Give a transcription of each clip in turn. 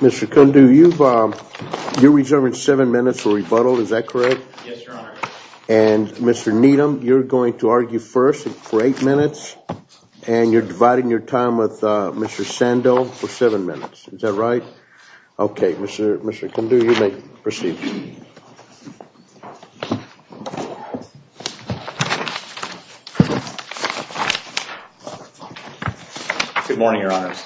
Mr. Kundu, you're reserving seven minutes for rebuttal, is that correct? Yes, Your Honor. And Mr. Needham, you're going to argue first for eight minutes, and you're dividing your time with Mr. Sandow for seven minutes, is that right? Okay, Mr. Kundu, you may proceed. Good morning, Your Honors.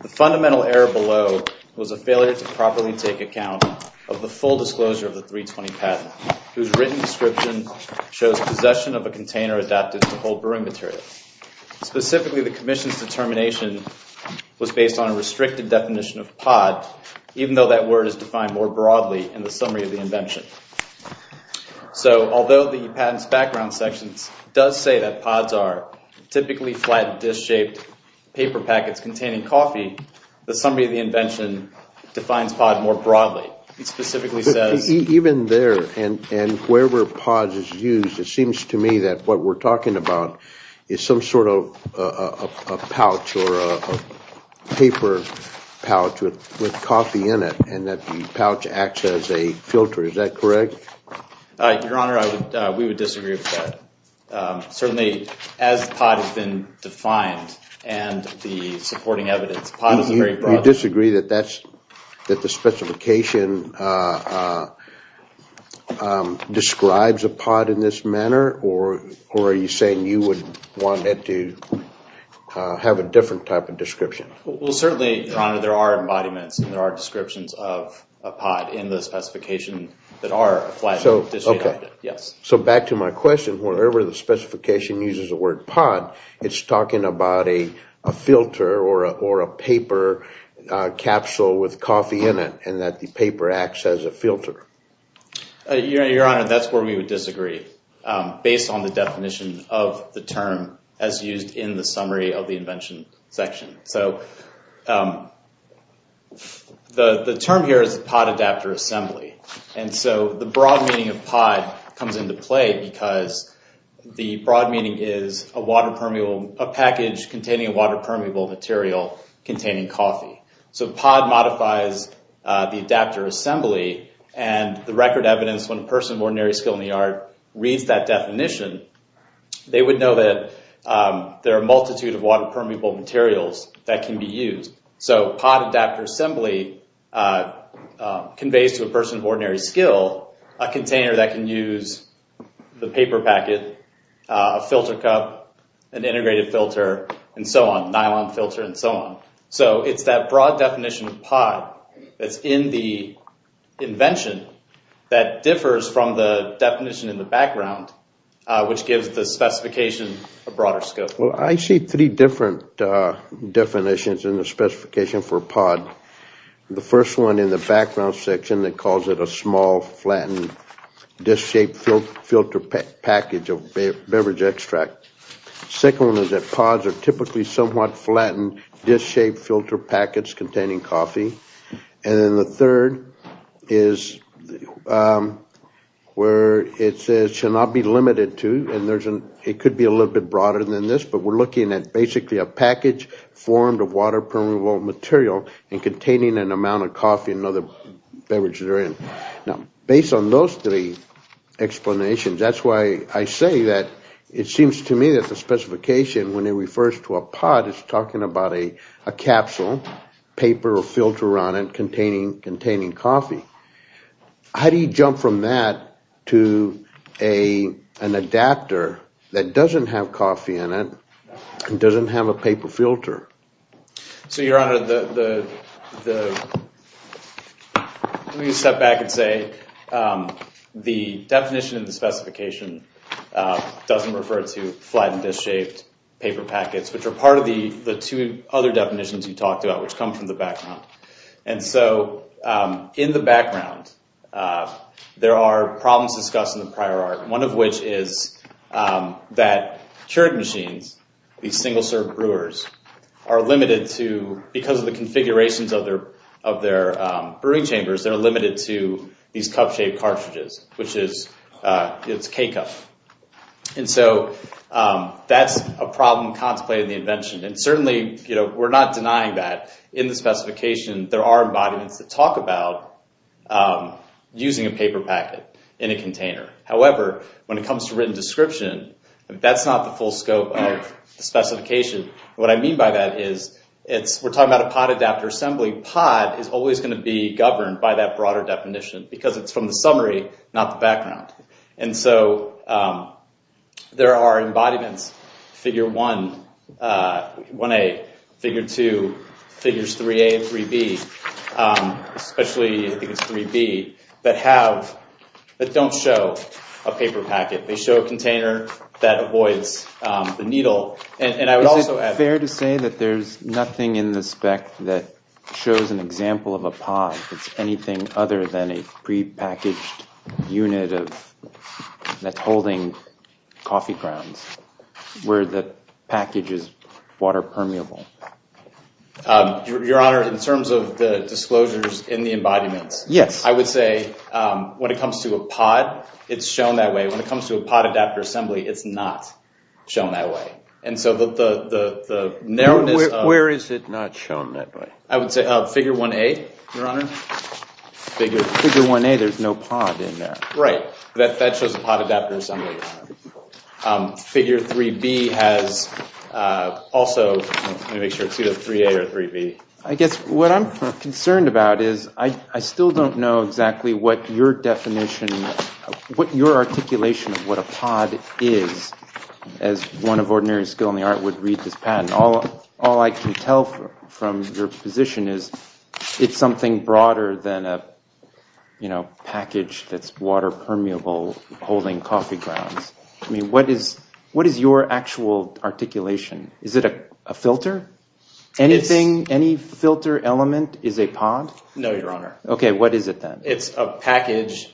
The fundamental error below was a failure to properly take account of the full disclosure of the 320 patent, whose written description shows possession of a container adapted to hold brewing materials. Specifically, the commission's determination was based on a restricted definition of pod, even though that word is defined more broadly in the summary of the invention. So although the patent's background sections does say that pods are typically flat, disc-shaped paper packets containing coffee, the summary of the invention defines pod more broadly. Even there, and wherever pod is used, it seems to me that what we're talking about is some sort of a pouch or a paper pouch with coffee in it, and that the pouch acts as a filter, is that correct? Your Honor, we would disagree with that. Certainly, as pod has been defined, and the supporting evidence, pod is very broad. You disagree that the specification describes a pod in this manner, or are you saying you would want it to have a different type of description? Well, certainly, Your Honor, there are embodiments and there are descriptions of a pod in the specification that are flat, disc-shaped. So back to my question, wherever the specification uses the word pod, it's talking about a filter or a paper capsule with coffee in it, and that the paper acts as a filter. Your Honor, that's where we would disagree, based on the definition of the term as used in the summary of the invention section. The term here is pod adapter assembly, and so the broad meaning of pod comes into play because the broad meaning is a package containing a water-permeable material containing coffee. So pod modifies the adapter assembly, and the record evidence, when a person of ordinary skill in the yard reads that definition, they would know that there are a multitude of water-permeable materials that can be used. So pod adapter assembly conveys to a person of ordinary skill a container that can use the paper packet, a filter cup, an integrated filter, and so on, nylon filter, and so on. So it's that broad definition of pod that's in the invention that differs from the definition in the background, which gives the specification a broader scope. Well, I see three different definitions in the specification for pod. The first one in the background section that calls it a small, flattened, disc-shaped filter package of beverage extract. The second one is that pods are typically somewhat flattened, disc-shaped filter packets containing coffee. And then the third is where it says it should not be limited to, and it could be a little bit broader than this, but we're looking at basically a package formed of water-permeable material and containing an amount of coffee and other beverages that are in. Now, based on those three explanations, that's why I say that it seems to me that the specification, when it refers to a pod, is talking about a capsule, paper or filter on it containing coffee. How do you jump from that to an adapter that doesn't have coffee in it and doesn't have a paper filter? So, Your Honor, let me step back and say the definition in the specification doesn't refer to flattened, disc-shaped paper packets, which are part of the two other definitions you talked about, which come from the background. And so, in the background, there are problems discussed in the prior art, one of which is that Keurig machines, these single-serve brewers, are limited to, because of the configurations of their brewing chambers, they're limited to these cup-shaped cartridges, which is, it's K-cup. And so, that's a problem contemplated in the invention. And certainly, we're not denying that. In the specification, there are embodiments that talk about using a paper packet in a container. However, when it comes to written description, that's not the full scope of the specification. What I mean by that is, we're talking about a pod adapter assembly. Pod is always going to be governed by that broader definition, because it's from the summary, not the background. And so, there are embodiments, figure 1A, figure 2, figures 3A and 3B, especially, I think it's 3B, that don't show a paper packet. They show a container that avoids the needle. And I would also add- Is it fair to say that there's nothing in the spec that shows an example of a pod? If it's anything other than a prepackaged unit that's holding coffee grounds, where the package is water permeable. Your Honor, in terms of the disclosures in the embodiments- Yes. I would say, when it comes to a pod, it's shown that way. When it comes to a pod adapter assembly, it's not shown that way. And so, the narrowness of- Where is it not shown that way? I would say figure 1A, Your Honor. Figure 1A, there's no pod in there. Right. That shows a pod adapter assembly. Figure 3B has also- Let me make sure it's either 3A or 3B. I guess what I'm concerned about is, I still don't know exactly what your definition, what your articulation of what a pod is, as one of ordinary skill in the art would read this patent. And all I can tell from your position is, it's something broader than a package that's water permeable, holding coffee grounds. I mean, what is your actual articulation? Is it a filter? Anything, any filter element is a pod? No, Your Honor. Okay, what is it then? It's a package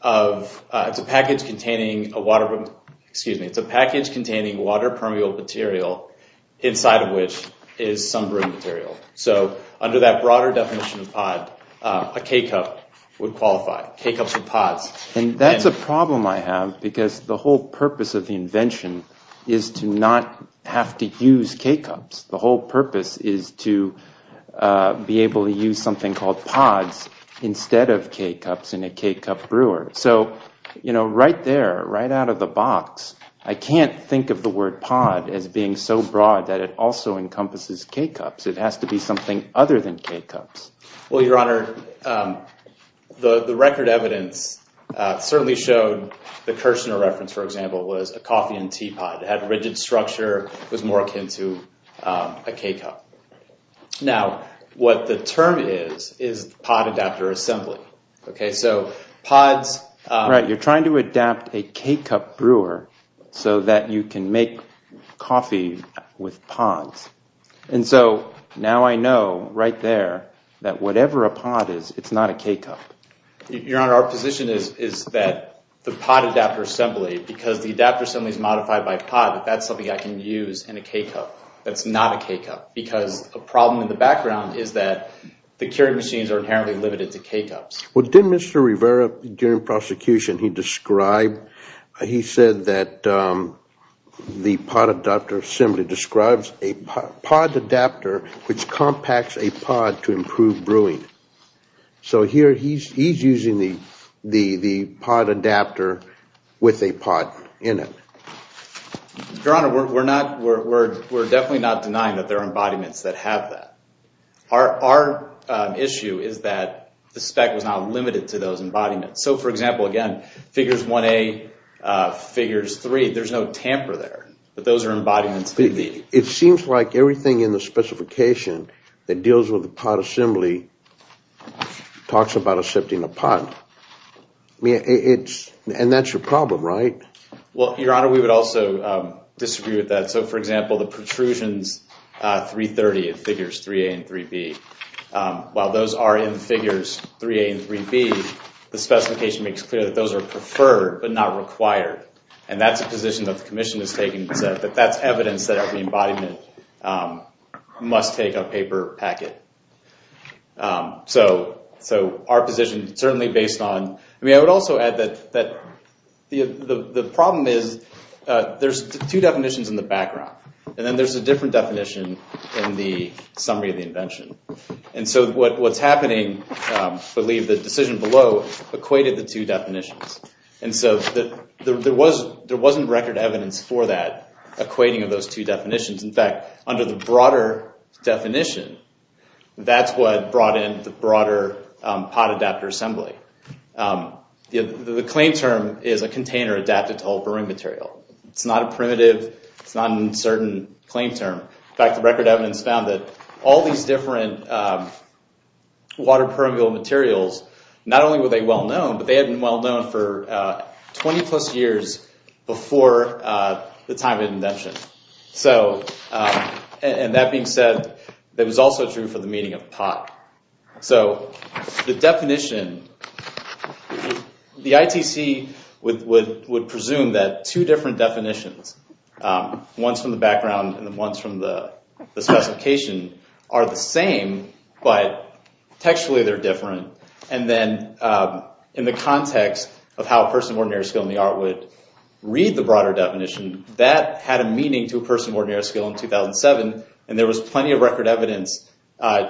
of- It's a package containing a water- Excuse me. It's a package containing water permeable material, inside of which is some brewing material. So, under that broader definition of pod, a K-cup would qualify. K-cups with pods. And that's a problem I have, because the whole purpose of the invention is to not have to use K-cups. The whole purpose is to be able to use something called pods instead of K-cups in a K-cup brewer. So, you know, right there, right out of the box, I can't think of the word pod as being so broad that it also encompasses K-cups. It has to be something other than K-cups. Well, Your Honor, the record evidence certainly showed the Kirshner reference, for example, was a coffee and tea pod. It had a rigid structure. It was more akin to a K-cup. Now, what the term is, is pod adapter assembly. Okay, so pods- Right, you're trying to adapt a K-cup brewer so that you can make coffee with pods. And so, now I know, right there, that whatever a pod is, it's not a K-cup. Your Honor, our position is that the pod adapter assembly, because the adapter assembly is like a pod, that that's something I can use in a K-cup that's not a K-cup. Because a problem in the background is that the Keurig machines are inherently limited to K-cups. Well, didn't Mr. Rivera, during prosecution, he described, he said that the pod adapter assembly describes a pod adapter which compacts a pod to improve brewing. So here, he's using the pod adapter with a pod in it. Your Honor, we're definitely not denying that there are embodiments that have that. Our issue is that the spec was not limited to those embodiments. So, for example, again, figures 1A, figures 3, there's no tamper there. But those are embodiments that could be. It seems like everything in the specification that deals with the pod assembly talks about accepting a pod. And that's your problem, right? Well, Your Honor, we would also disagree with that. So, for example, the protrusions 330 in figures 3A and 3B, while those are in figures 3A and 3B, the specification makes clear that those are preferred but not required. And that's a position that the Commission is taking. That's evidence that every embodiment must take a paper packet. So, our position, certainly based on, I mean, I would also add that the problem is there's two definitions in the background. And then there's a different definition in the summary of the invention. And so what's happening, I believe the decision below equated the two definitions. And so there wasn't record evidence for that equating of those two definitions. In fact, under the broader definition, that's what brought in the broader pod adapter assembly. The claim term is a container adapted to hold brewing material. It's not a primitive, it's not an uncertain claim term. In fact, the record evidence found that all these different water permeable materials, not only were they well known, but they had been well known for 20 plus years before the time of invention. So, and that being said, it was also true for the meaning of pot. So, the definition, the ITC would presume that two different definitions, ones from the background and the ones from the specification, are the same, but textually they're different. And then in the context of how a person of ordinary skill in the art would read the broader definition, that had a meaning to a person of ordinary skill in 2007. And there was plenty of record evidence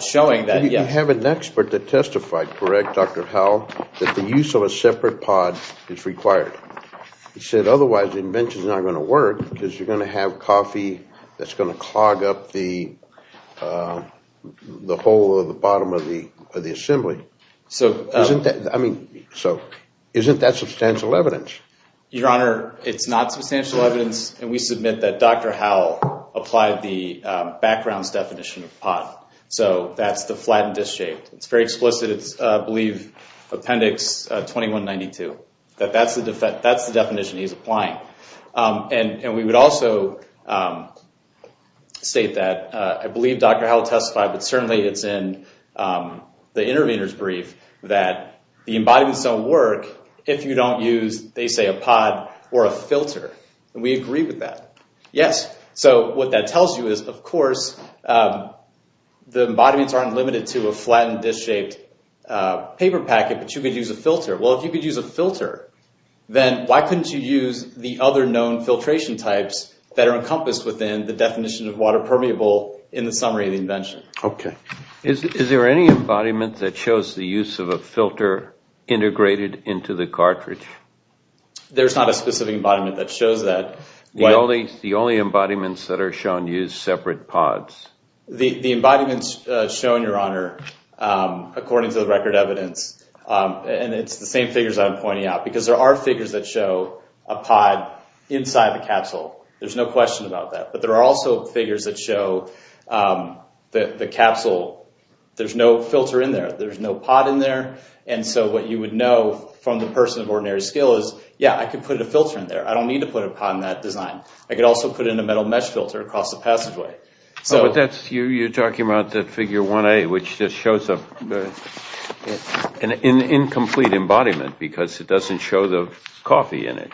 showing that, yes. You have an expert that testified, correct, Dr. Howell, that the use of a separate pod is required. He said, otherwise the invention's not going to work because you're going to have coffee that's going to clog up the hole at the bottom of the assembly. So, isn't that substantial evidence? Your Honor, it's not substantial evidence. And we submit that Dr. Howell applied the background's definition of pod. So, that's the flattened disc shape. It's very explicit. It's, I believe, appendix 2192. That's the definition he's applying. And we would also state that, I believe Dr. Howell testified, but certainly it's in the intervener's brief, that the embodiments don't work if you don't use, they say, a pod or a filter. And we agree with that. Yes. So, what that tells you is, of course, the embodiments aren't limited to a flattened disc-shaped paper packet, but you could use a filter. Well, if you could use a filter, then why couldn't you use the other known filtration types that are encompassed within the definition of water permeable in the summary of the invention? Okay. Is there any embodiment that shows the use of a filter integrated into the cartridge? There's not a specific embodiment that shows that. The only embodiments that are shown use separate pods. The embodiments shown, Your Honor, according to the record evidence, and it's the same figures I'm pointing out, because there are figures that show a pod inside the capsule. There's no question about that. But there are also figures that show that the capsule, there's no filter in there. There's no pod in there. And so what you would know from the person of ordinary skill is, yeah, I could put a filter in there. I don't need to put a pod in that design. I could also put in a metal mesh filter across the passageway. You're talking about the figure 1A, which just shows an incomplete embodiment because it doesn't show the coffee in it.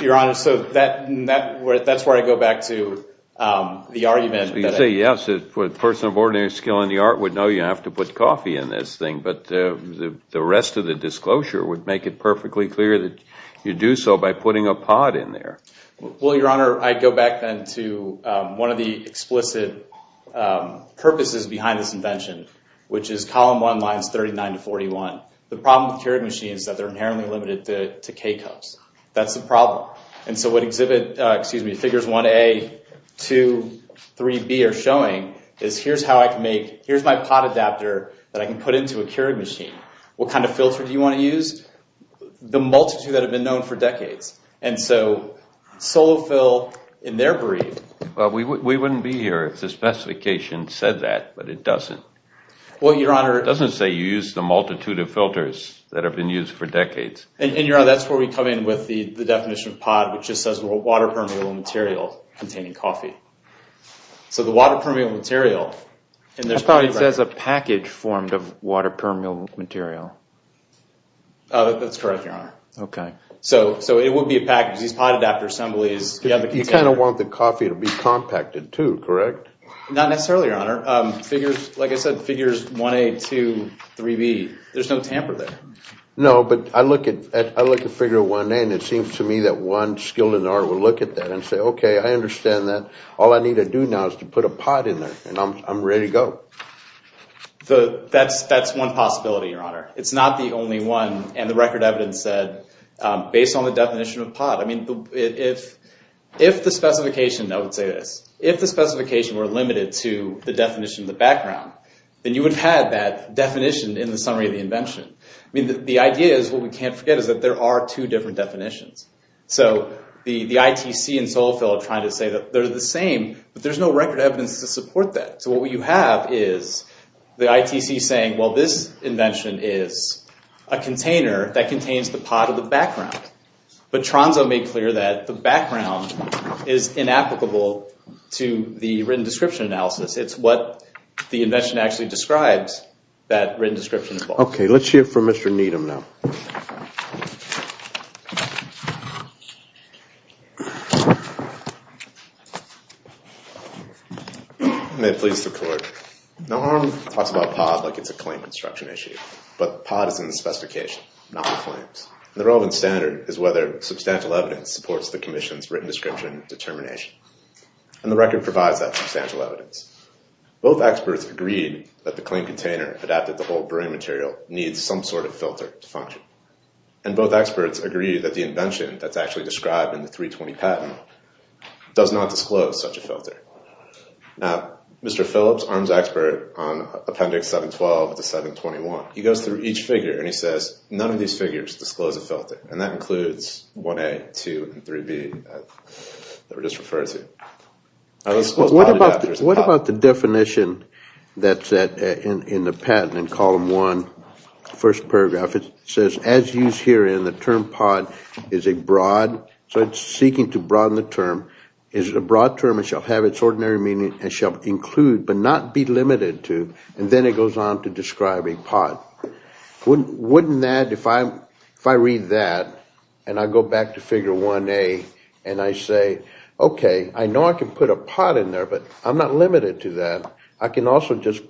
Your Honor, so that's where I go back to the argument. You say, yes, a person of ordinary skill in the art would know you have to put coffee in this thing, but the rest of the disclosure would make it perfectly clear that you do so by putting a pod in there. Well, Your Honor, I go back then to one of the explicit purposes behind this invention, which is column 1 lines 39 to 41. The problem with Keurig machines is that they're inherently limited to K-cups. That's the problem. And so what figures 1A, 2, 3B are showing is here's my pod adapter that I can put into a Keurig machine. What kind of filter do you want to use? The multitude that have been known for decades. And so Solofil in their breed... Well, we wouldn't be here if the specification said that, but it doesn't. Well, Your Honor... It doesn't say you use the multitude of filters that have been used for decades. And Your Honor, that's where we come in with the definition of pod, which just says water permeable material containing coffee. So the water permeable material... That probably says a package formed of water permeable material. That's correct, Your Honor. Okay. So it would be a package. These pod adapter assemblies... You kind of want the coffee to be compacted too, correct? Not necessarily, Your Honor. Like I said, figures 1A, 2, 3B. There's no tamper there. No, but I look at figure 1A and it seems to me that one skilled in the art would look at that and say, okay, I understand that. All I need to do now is to put a pod in there and I'm ready to go. That's one possibility, Your Honor. It's not the only one. And the record evidence said based on the definition of pod. I mean, if the specification... I would say this. If the specification were limited to the definition of the background, then you would have had that definition in the summary of the invention. I mean, the idea is what we can't forget is that there are two different definitions. So the ITC and Solofill are trying to say that they're the same, but there's no record evidence to support that. So what you have is the ITC saying, well, this invention is a container that contains the pod of the background. But Tronzo made clear that the background is inapplicable to the written description analysis. It's what the invention actually describes that written description. Okay, let's hear from Mr. Needham now. May it please the Court. Norm talks about pod like it's a claim construction issue. But pod is in the specification, not the claims. The relevant standard is whether substantial evidence supports the commission's written description determination. And the record provides that substantial evidence. Both experts agreed that the claim container adapted to the whole brewing material needs some sort of filter to function. And both experts agree that the invention that's actually described in the 320 patent does not disclose such a filter. Now, Mr. Phillips, arms expert on Appendix 712 to 721, he goes through each figure and he says none of these figures disclose a filter. And that includes 1A, 2, and 3B that were just referred to. What about the definition that's in the patent in column 1, first paragraph? It says as used here in the term pod is a broad, so it's seeking to broaden the term, is a broad term and shall have its ordinary meaning and shall include but not be limited to. And then it goes on to describe a pod. Wouldn't that, if I read that and I go back to figure 1A and I say, okay, I know I can put a pod in there, but I'm not limited to that. I can also just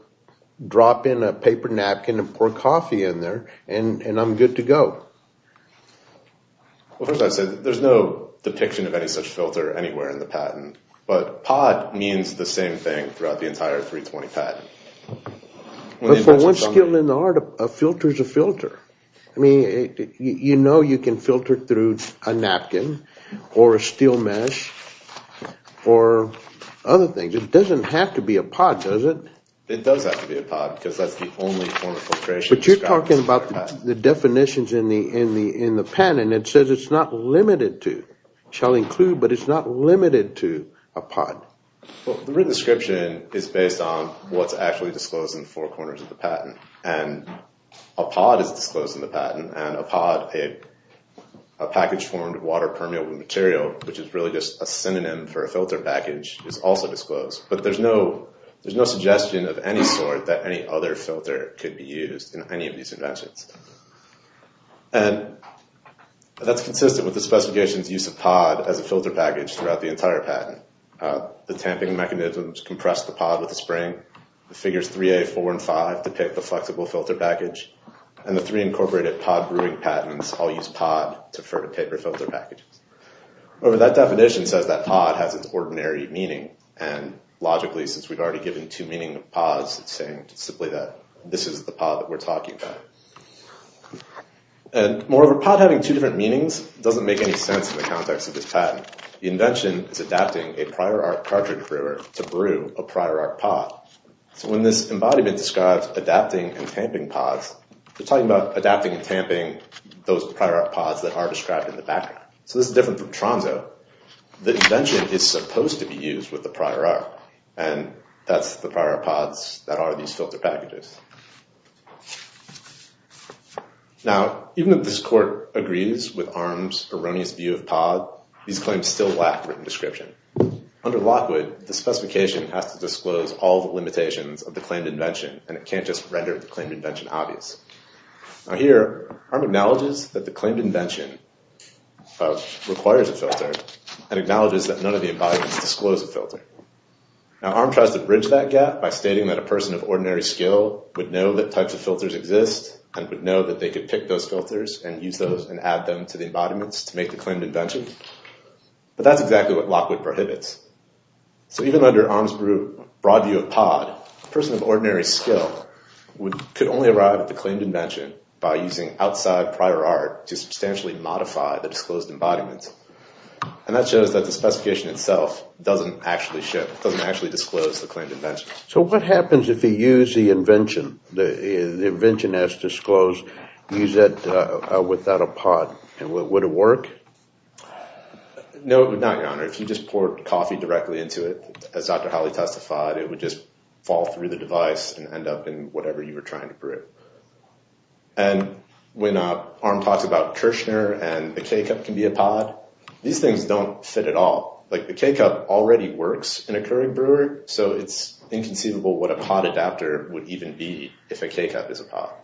drop in a paper napkin and pour coffee in there and I'm good to go. Well, first I'd say there's no depiction of any such filter anywhere in the patent. But pod means the same thing throughout the entire 320 patent. But for one skill in the art, a filter is a filter. I mean, you know you can filter through a napkin or a steel mesh or other things. It doesn't have to be a pod, does it? It does have to be a pod because that's the only form of filtration. But you're talking about the definitions in the patent. It says it's not limited to, shall include, but it's not limited to a pod. The written description is based on what's actually disclosed in the four corners of the patent. And a pod is disclosed in the patent and a pod, a package formed of water permeable material, which is really just a synonym for a filter package, is also disclosed. But there's no suggestion of any sort that any other filter could be used in any of these inventions. And that's consistent with the specifications use of pod as a filter package throughout the entire patent. The tamping mechanisms compress the pod with the spring. The figures 3A, 4, and 5 depict the flexible filter package. And the three incorporated pod brewing patents all use pod to refer to paper filter packages. However, that definition says that pod has its ordinary meaning. And logically, since we've already given two meaning of pods, it's saying simply that this is the pod that we're talking about. And moreover, pod having two different meanings doesn't make any sense in the context of this patent. In fact, the invention is adapting a prior art cartridge brewer to brew a prior art pod. So when this embodiment describes adapting and tamping pods, they're talking about adapting and tamping those prior art pods that are described in the background. So this is different from Tronzo. The invention is supposed to be used with the prior art. And that's the prior art pods that are these filter packages. Now, even if this court agrees with Arm's erroneous view of pod, these claims still lack written description. Under Lockwood, the specification has to disclose all the limitations of the claimed invention. And it can't just render the claimed invention obvious. Now here, Arm acknowledges that the claimed invention requires a filter and acknowledges that none of the embodiments disclose a filter. Now, Arm tries to bridge that gap by stating that a person of ordinary skill would know that types of filters exist and would know that they could pick those filters and use those and add them to the embodiments to make the claimed invention. But that's exactly what Lockwood prohibits. So even under Arm's broad view of pod, a person of ordinary skill could only arrive at the claimed invention by using outside prior art to substantially modify the disclosed embodiment. And that shows that the specification itself doesn't actually disclose the claimed invention. So what happens if you use the invention, the invention as disclosed, use it without a pod? Would it work? No, it would not, Your Honor. If you just poured coffee directly into it, as Dr. Hawley testified, it would just fall through the device and end up in whatever you were trying to brew. And when Arm talks about Kirshner and the K-cup can be a pod, these things don't fit at all. Like, the K-cup already works in a Keurig brewery, so it's inconceivable what a pod adapter would even be if a K-cup is a pod.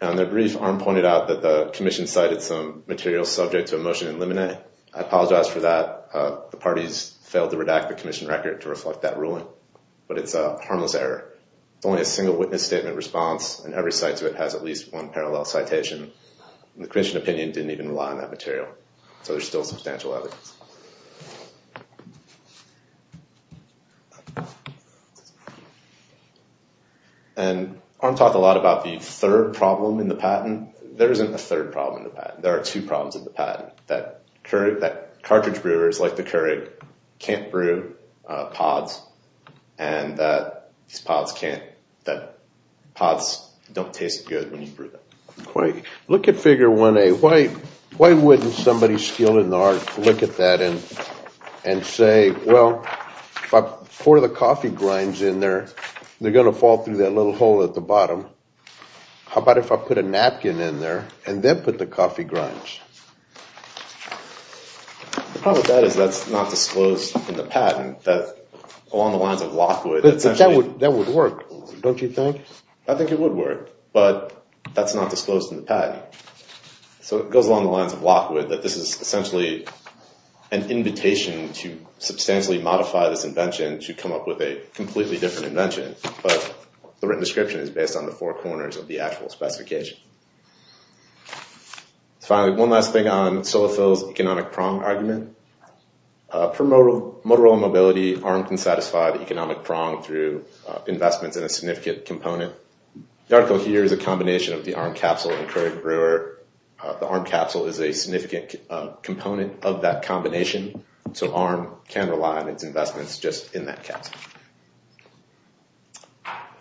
Now, in their brief, Arm pointed out that the commission cited some materials subject to a motion in limine. I apologize for that. The parties failed to redact the commission record to reflect that ruling. But it's a harmless error. It's only a single witness statement response, and every site to it has at least one parallel citation. And the commission opinion didn't even rely on that material. So there's still substantial evidence. And Arm talked a lot about the third problem in the patent. There isn't a third problem in the patent. There are two problems in the patent. That cartridge brewers like the Keurig can't brew pods, and that pods don't taste good when you brew them. Look at figure 1A. Why wouldn't somebody skilled in the art look at that and say, well, if I pour the coffee grinds in there, they're going to fall through that little hole at the bottom. How about if I put a napkin in there and then put the coffee grinds? The problem with that is that's not disclosed in the patent. That's along the lines of Lockwood. That would work, don't you think? I think it would work, but that's not disclosed in the patent. So it goes along the lines of Lockwood that this is essentially an invitation to substantially modify this invention to come up with a completely different invention. But the written description is based on the four corners of the actual specification. Finally, one last thing on Solifil's economic prong argument. For Motorola Mobility, Arm can satisfy the economic prong through investments in a significant component. The article here is a combination of the Arm capsule and Keurig Brewer. The Arm capsule is a significant component of that combination, If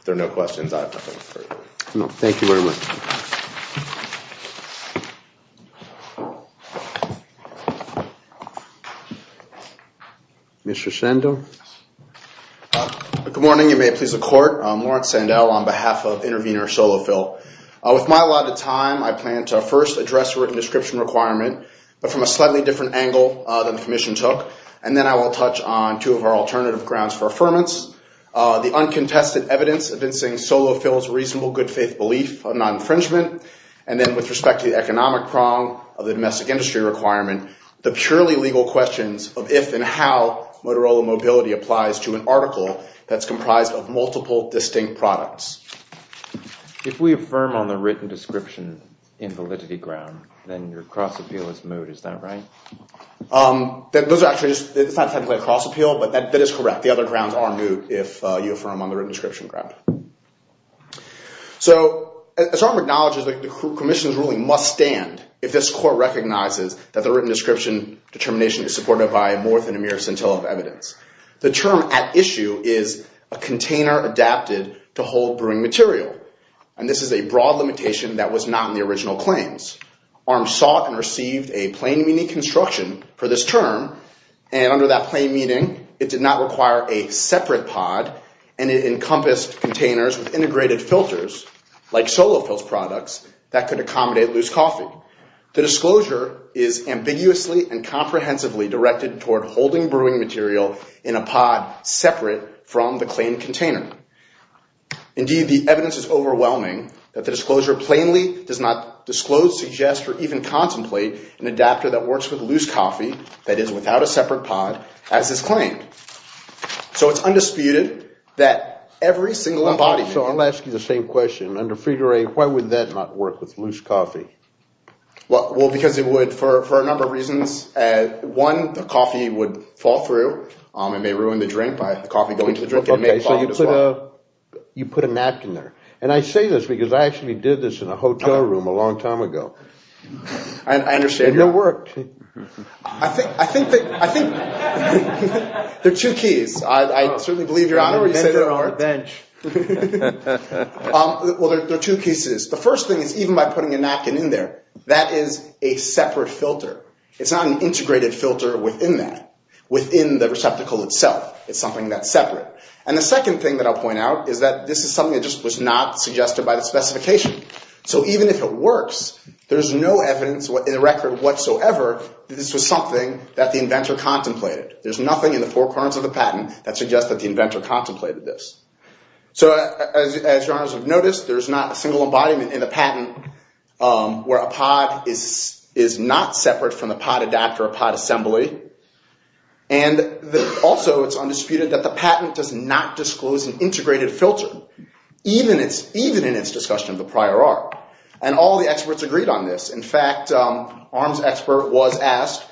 there are no questions, I have nothing further. Thank you very much. Mr. Sandell? Good morning, and may it please the Court. I'm Lawrence Sandell on behalf of Intervenor Solifil. With my allotted time, I plan to first address the written description requirement, but from a slightly different angle than the Commission took, and then I will touch on two of our alternative grounds for affirmance. The uncontested evidence convincing Solifil's reasonable good-faith belief of non-infringement, and then with respect to the economic prong of the domestic industry requirement, the purely legal questions of if and how Motorola Mobility applies to an article that's comprised of multiple distinct products. If we affirm on the written description invalidity ground, then your cross-appeal is moot, is that right? It's not technically a cross-appeal, but that is correct. The other grounds are moot if you affirm on the written description ground. So, as Arm acknowledges, the Commission's ruling must stand if this Court recognizes that the written description determination is supported by more than a mere scintilla of evidence. The term at issue is a container adapted to hold brewing material, and this is a broad limitation that was not in the original claims. Arm sought and received a plain meaning construction for this term, and under that plain meaning, it did not require a separate pod, and it encompassed containers with integrated filters, like Solifil's products, that could accommodate loose coffee. The disclosure is ambiguously and comprehensively directed toward holding brewing material in a pod separate from the claimed container. Indeed, the evidence is overwhelming that the disclosure plainly does not disclose, suggest, or even contemplate an adapter that works with loose coffee, that is, without a separate pod, as is claimed. So, it's undisputed that every single embodiment... So, I'll ask you the same question. Under figure A, why would that not work with loose coffee? Well, because it would, for a number of reasons. One, the coffee would fall through. It may ruin the drink by the coffee going into the drink, and may fall as well. Okay, so you put a napkin there. And I say this because I actually did this in a hotel room a long time ago. I understand. And it worked. I think... I think that... I think... There are two keys. I certainly believe you're on it. I'm on a bench. Well, there are two keys to this. The first thing is, even by putting a napkin in there, that is a separate filter. It's not an integrated filter within that, within the receptacle itself. It's something that's separate. And the second thing that I'll point out is that this is something that just was not suggested by the specification. So, even if it works, there's no evidence in the record whatsoever that this was something that the inventor contemplated. There's nothing in the four corners of the patent that suggests that the inventor contemplated this. So, as your honors have noticed, there's not a single embodiment in the patent where a pod is not separate from the pod adapter or pod assembly. And also, it's undisputed that the patent does not disclose an integrated filter, even in its discussion of the prior art. And all the experts agreed on this. In fact, an arms expert was asked,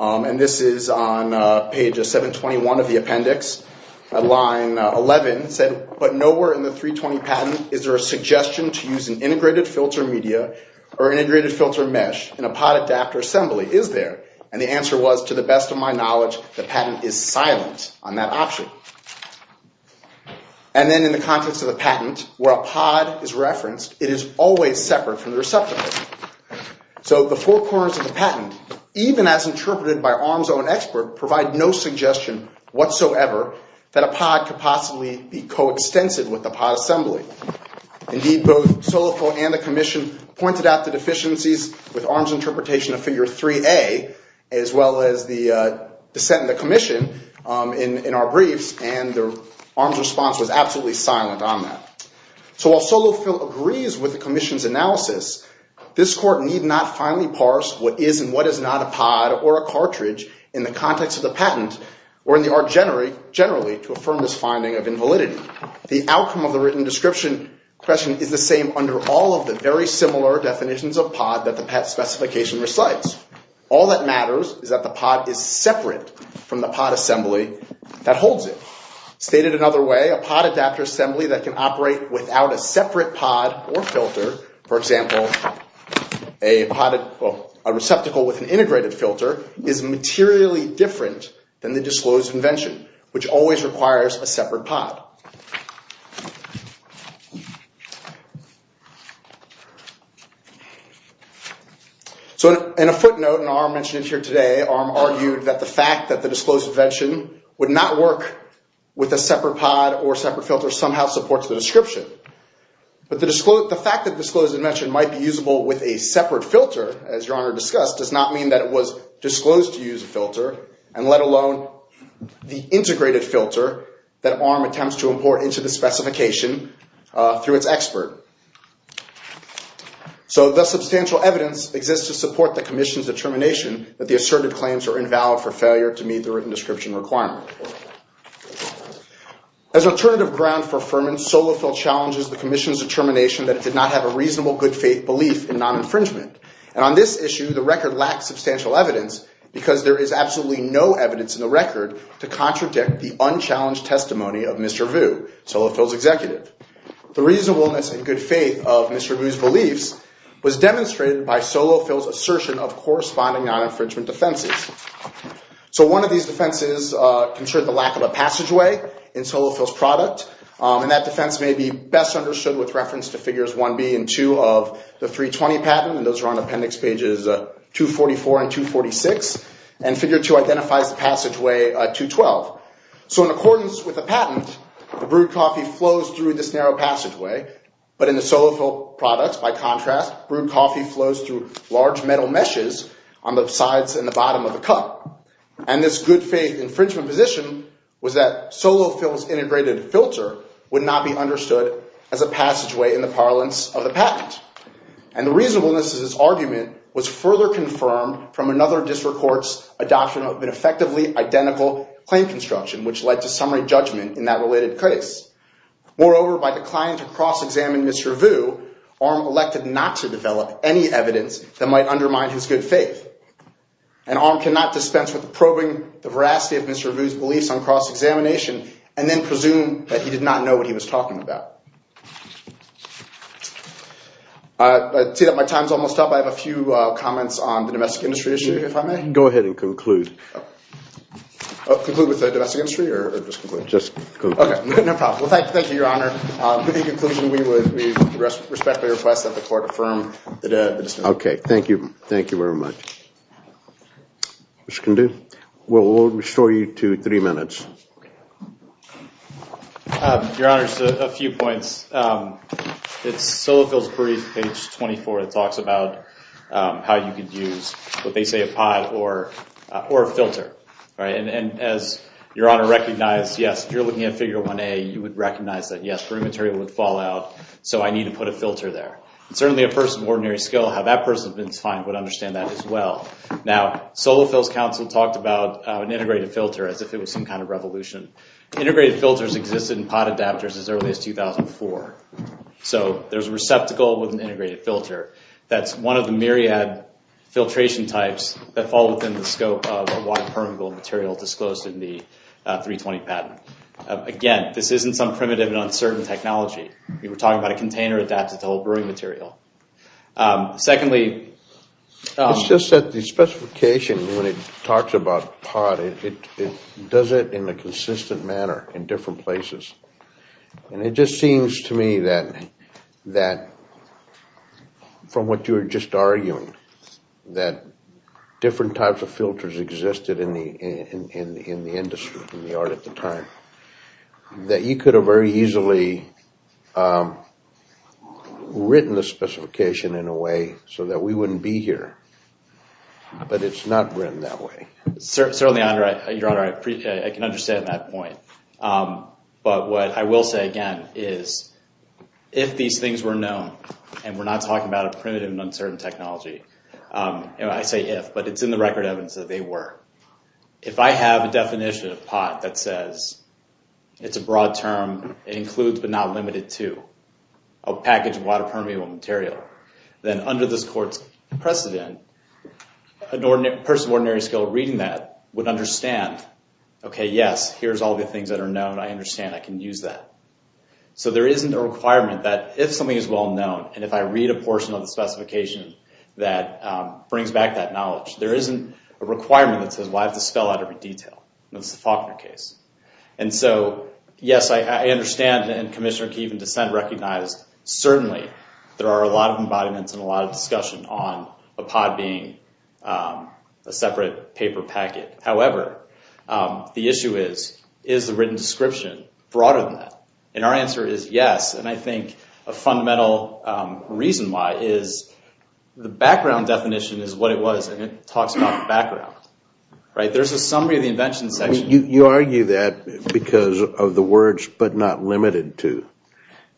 and this is on page 721 of the appendix, at line 11, said, but nowhere in the 320 patent is there a suggestion to use an integrated filter media or an integrated filter mesh in a pod adapter assembly. Is there? And the answer was, to the best of my knowledge, the patent is silent on that option. And then, in the context of the patent, where a pod is referenced, it is always separate from the receptacle. So, the four corners of the patent, even as interpreted by an arms-owned expert, provide no suggestion whatsoever that a pod could possibly be coextensive with the pod assembly. Indeed, both Solifold and the Commission pointed out the deficiencies with arms interpretation of Figure 3A, as well as the dissent in the Commission, in our briefs, and the arms response was absolutely silent on that. So, while Solifold agrees with the Commission's analysis, this Court need not finally parse what is and what is not a pod or a cartridge in the context of the patent or in the art generally to affirm this finding of invalidity. The outcome of the written description question is the same under all of the very similar definitions of pod that the specification recites. All that matters is that the pod is separate from the pod assembly that holds it. Stated another way, a pod adapter assembly that can operate without a separate pod or filter, for example, a receptacle with an integrated filter, is materially different than the disclosed invention, which always requires a separate pod. So, in a footnote, and Arm mentioned it here today, Arm argued that the fact that the disclosed invention would not work with a separate pod or separate filter somehow supports the description. But the fact that disclosed invention might be usable with a separate filter, as Your Honor discussed, does not mean that it was disclosed to use a filter, and let alone the integrated filter that Arm attempts to import into the specification through its expert. So, the substantial evidence exists to support the commission's determination that the asserted claims are invalid for failure to meet the written description requirement. As alternative ground for affirmance, Solofill challenges the commission's determination that it did not have a reasonable good faith belief in non-infringement. And on this issue, the record lacks substantial evidence because there is absolutely no evidence in the record to contradict the unchallenged testimony of Mr. Vu, Solofill's executive. The reasonableness and good faith of Mr. Vu's beliefs was demonstrated by Solofill's assertion of corresponding non-infringement defenses. So, one of these defenses concerned the lack of a passageway in Solofill's product, and that defense may be best understood with reference to figures 1B and 2 of the 320 patent, and those are on appendix pages 244 and 246, and figure 2 identifies the passageway 212. So, in accordance with the patent, the brewed coffee flows through this narrow passageway, but in the Solofill products, by contrast, brewed coffee flows through large metal meshes on the sides and the bottom of the cup. And this good faith infringement position was that Solofill's integrated filter would not be understood as a passageway in the parlance of the patent. And the reasonableness of this argument was further confirmed from another district court's adoption of an effectively identical claim construction, which led to summary judgment in that related case. Moreover, by declining to cross-examine Mr. Vu, Arm elected not to develop any evidence that might undermine his good faith. And Arm cannot dispense with probing the veracity of Mr. Vu's beliefs on cross-examination and then presume that he did not know what he was talking about. I see that my time's almost up. I have a few comments on the domestic industry issue, if I may. Go ahead and conclude. Conclude with the domestic industry, or just conclude? Just conclude. Okay, no problem. Well, thank you, Your Honor. In conclusion, we respectfully request that the court affirm the defense. Okay. Thank you. Thank you very much. Mr. Condu, we'll restore you to three minutes. Your Honor, just a few points. It's Solofill's brief, page 24, that talks about how you could use what they say a pod or a filter. And as Your Honor recognized, yes, if you're looking at Figure 1A, you would recognize that, yes, perimeterial would fall out, so I need to put a filter there. And certainly a person of ordinary skill, how that person's been assigned, would understand that as well. Now, Solofill's counsel talked about an integrated filter as if it was some kind of revolution. Integrated filters existed in pod adapters as early as 2004. So there's a receptacle with an integrated filter that's one of the myriad filtration types that fall within the scope of a wide permeable material disclosed in the 320 patent. Again, this isn't some primitive and uncertain technology. We were talking about a container adapted to a whole brewing material. Secondly... It's just that the specification when it talks about pod, it does it in a consistent manner in different places. And it just seems to me that from what you were just arguing, that different types of filters existed in the industry, in the art at the time, that you could have very easily written the specification in a way so that we wouldn't be here. But it's not written that way. Certainly, Your Honor, I can understand that point. But what I will say again is if these things were known, and we're not talking about a primitive and uncertain technology, I say if, but it's in the record evidence that they were. If I have a definition of pod that says, it's a broad term, includes but not limited to, a package of water permeable material, then under this court's precedent, a person of ordinary skill reading that would understand, okay, yes, here's all the things that are known, I understand, I can use that. So there isn't a requirement that if something is well known, and if I read a portion of the specification that brings back that knowledge, there isn't a requirement that says, well, I have to spell out every detail. That's the Faulkner case. And so, yes, I understand, and Commissioner Keeve and dissent recognized, certainly there are a lot of embodiments and a lot of discussion on a pod being a separate paper packet. However, the issue is, is the written description broader than that? And our answer is yes. And I think a fundamental reason why is the background definition is what it was. And it talks about the background. There's a summary of the invention section. You argue that because of the words, but not limited to.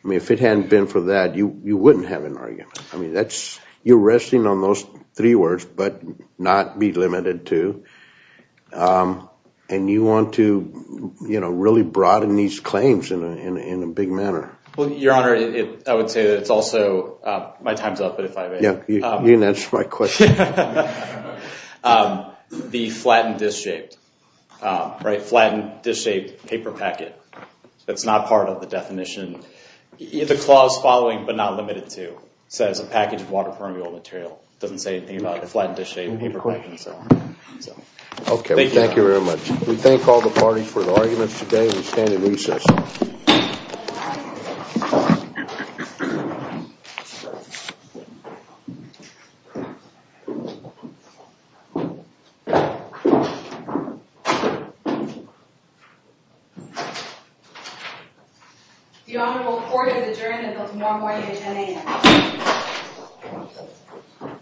I mean, if it hadn't been for that, you wouldn't have an argument. I mean, you're resting on those three words, but not be limited to. And you want to really broaden these claims in a big manner. Well, Your Honor, I would say that it's also my time's up, but if I may. Yeah, you didn't answer my question. The flattened disc-shaped, right, flattened disc-shaped paper packet. That's not part of the definition. The clause following, but not limited to, says a package of water permeable material. It doesn't say anything about the flattened disc-shaped paper packet. Okay, well, thank you very much. We thank all the parties for their arguments today. We stand in recess. The Honorable Court has adjourned until tomorrow morning at 10 a.m.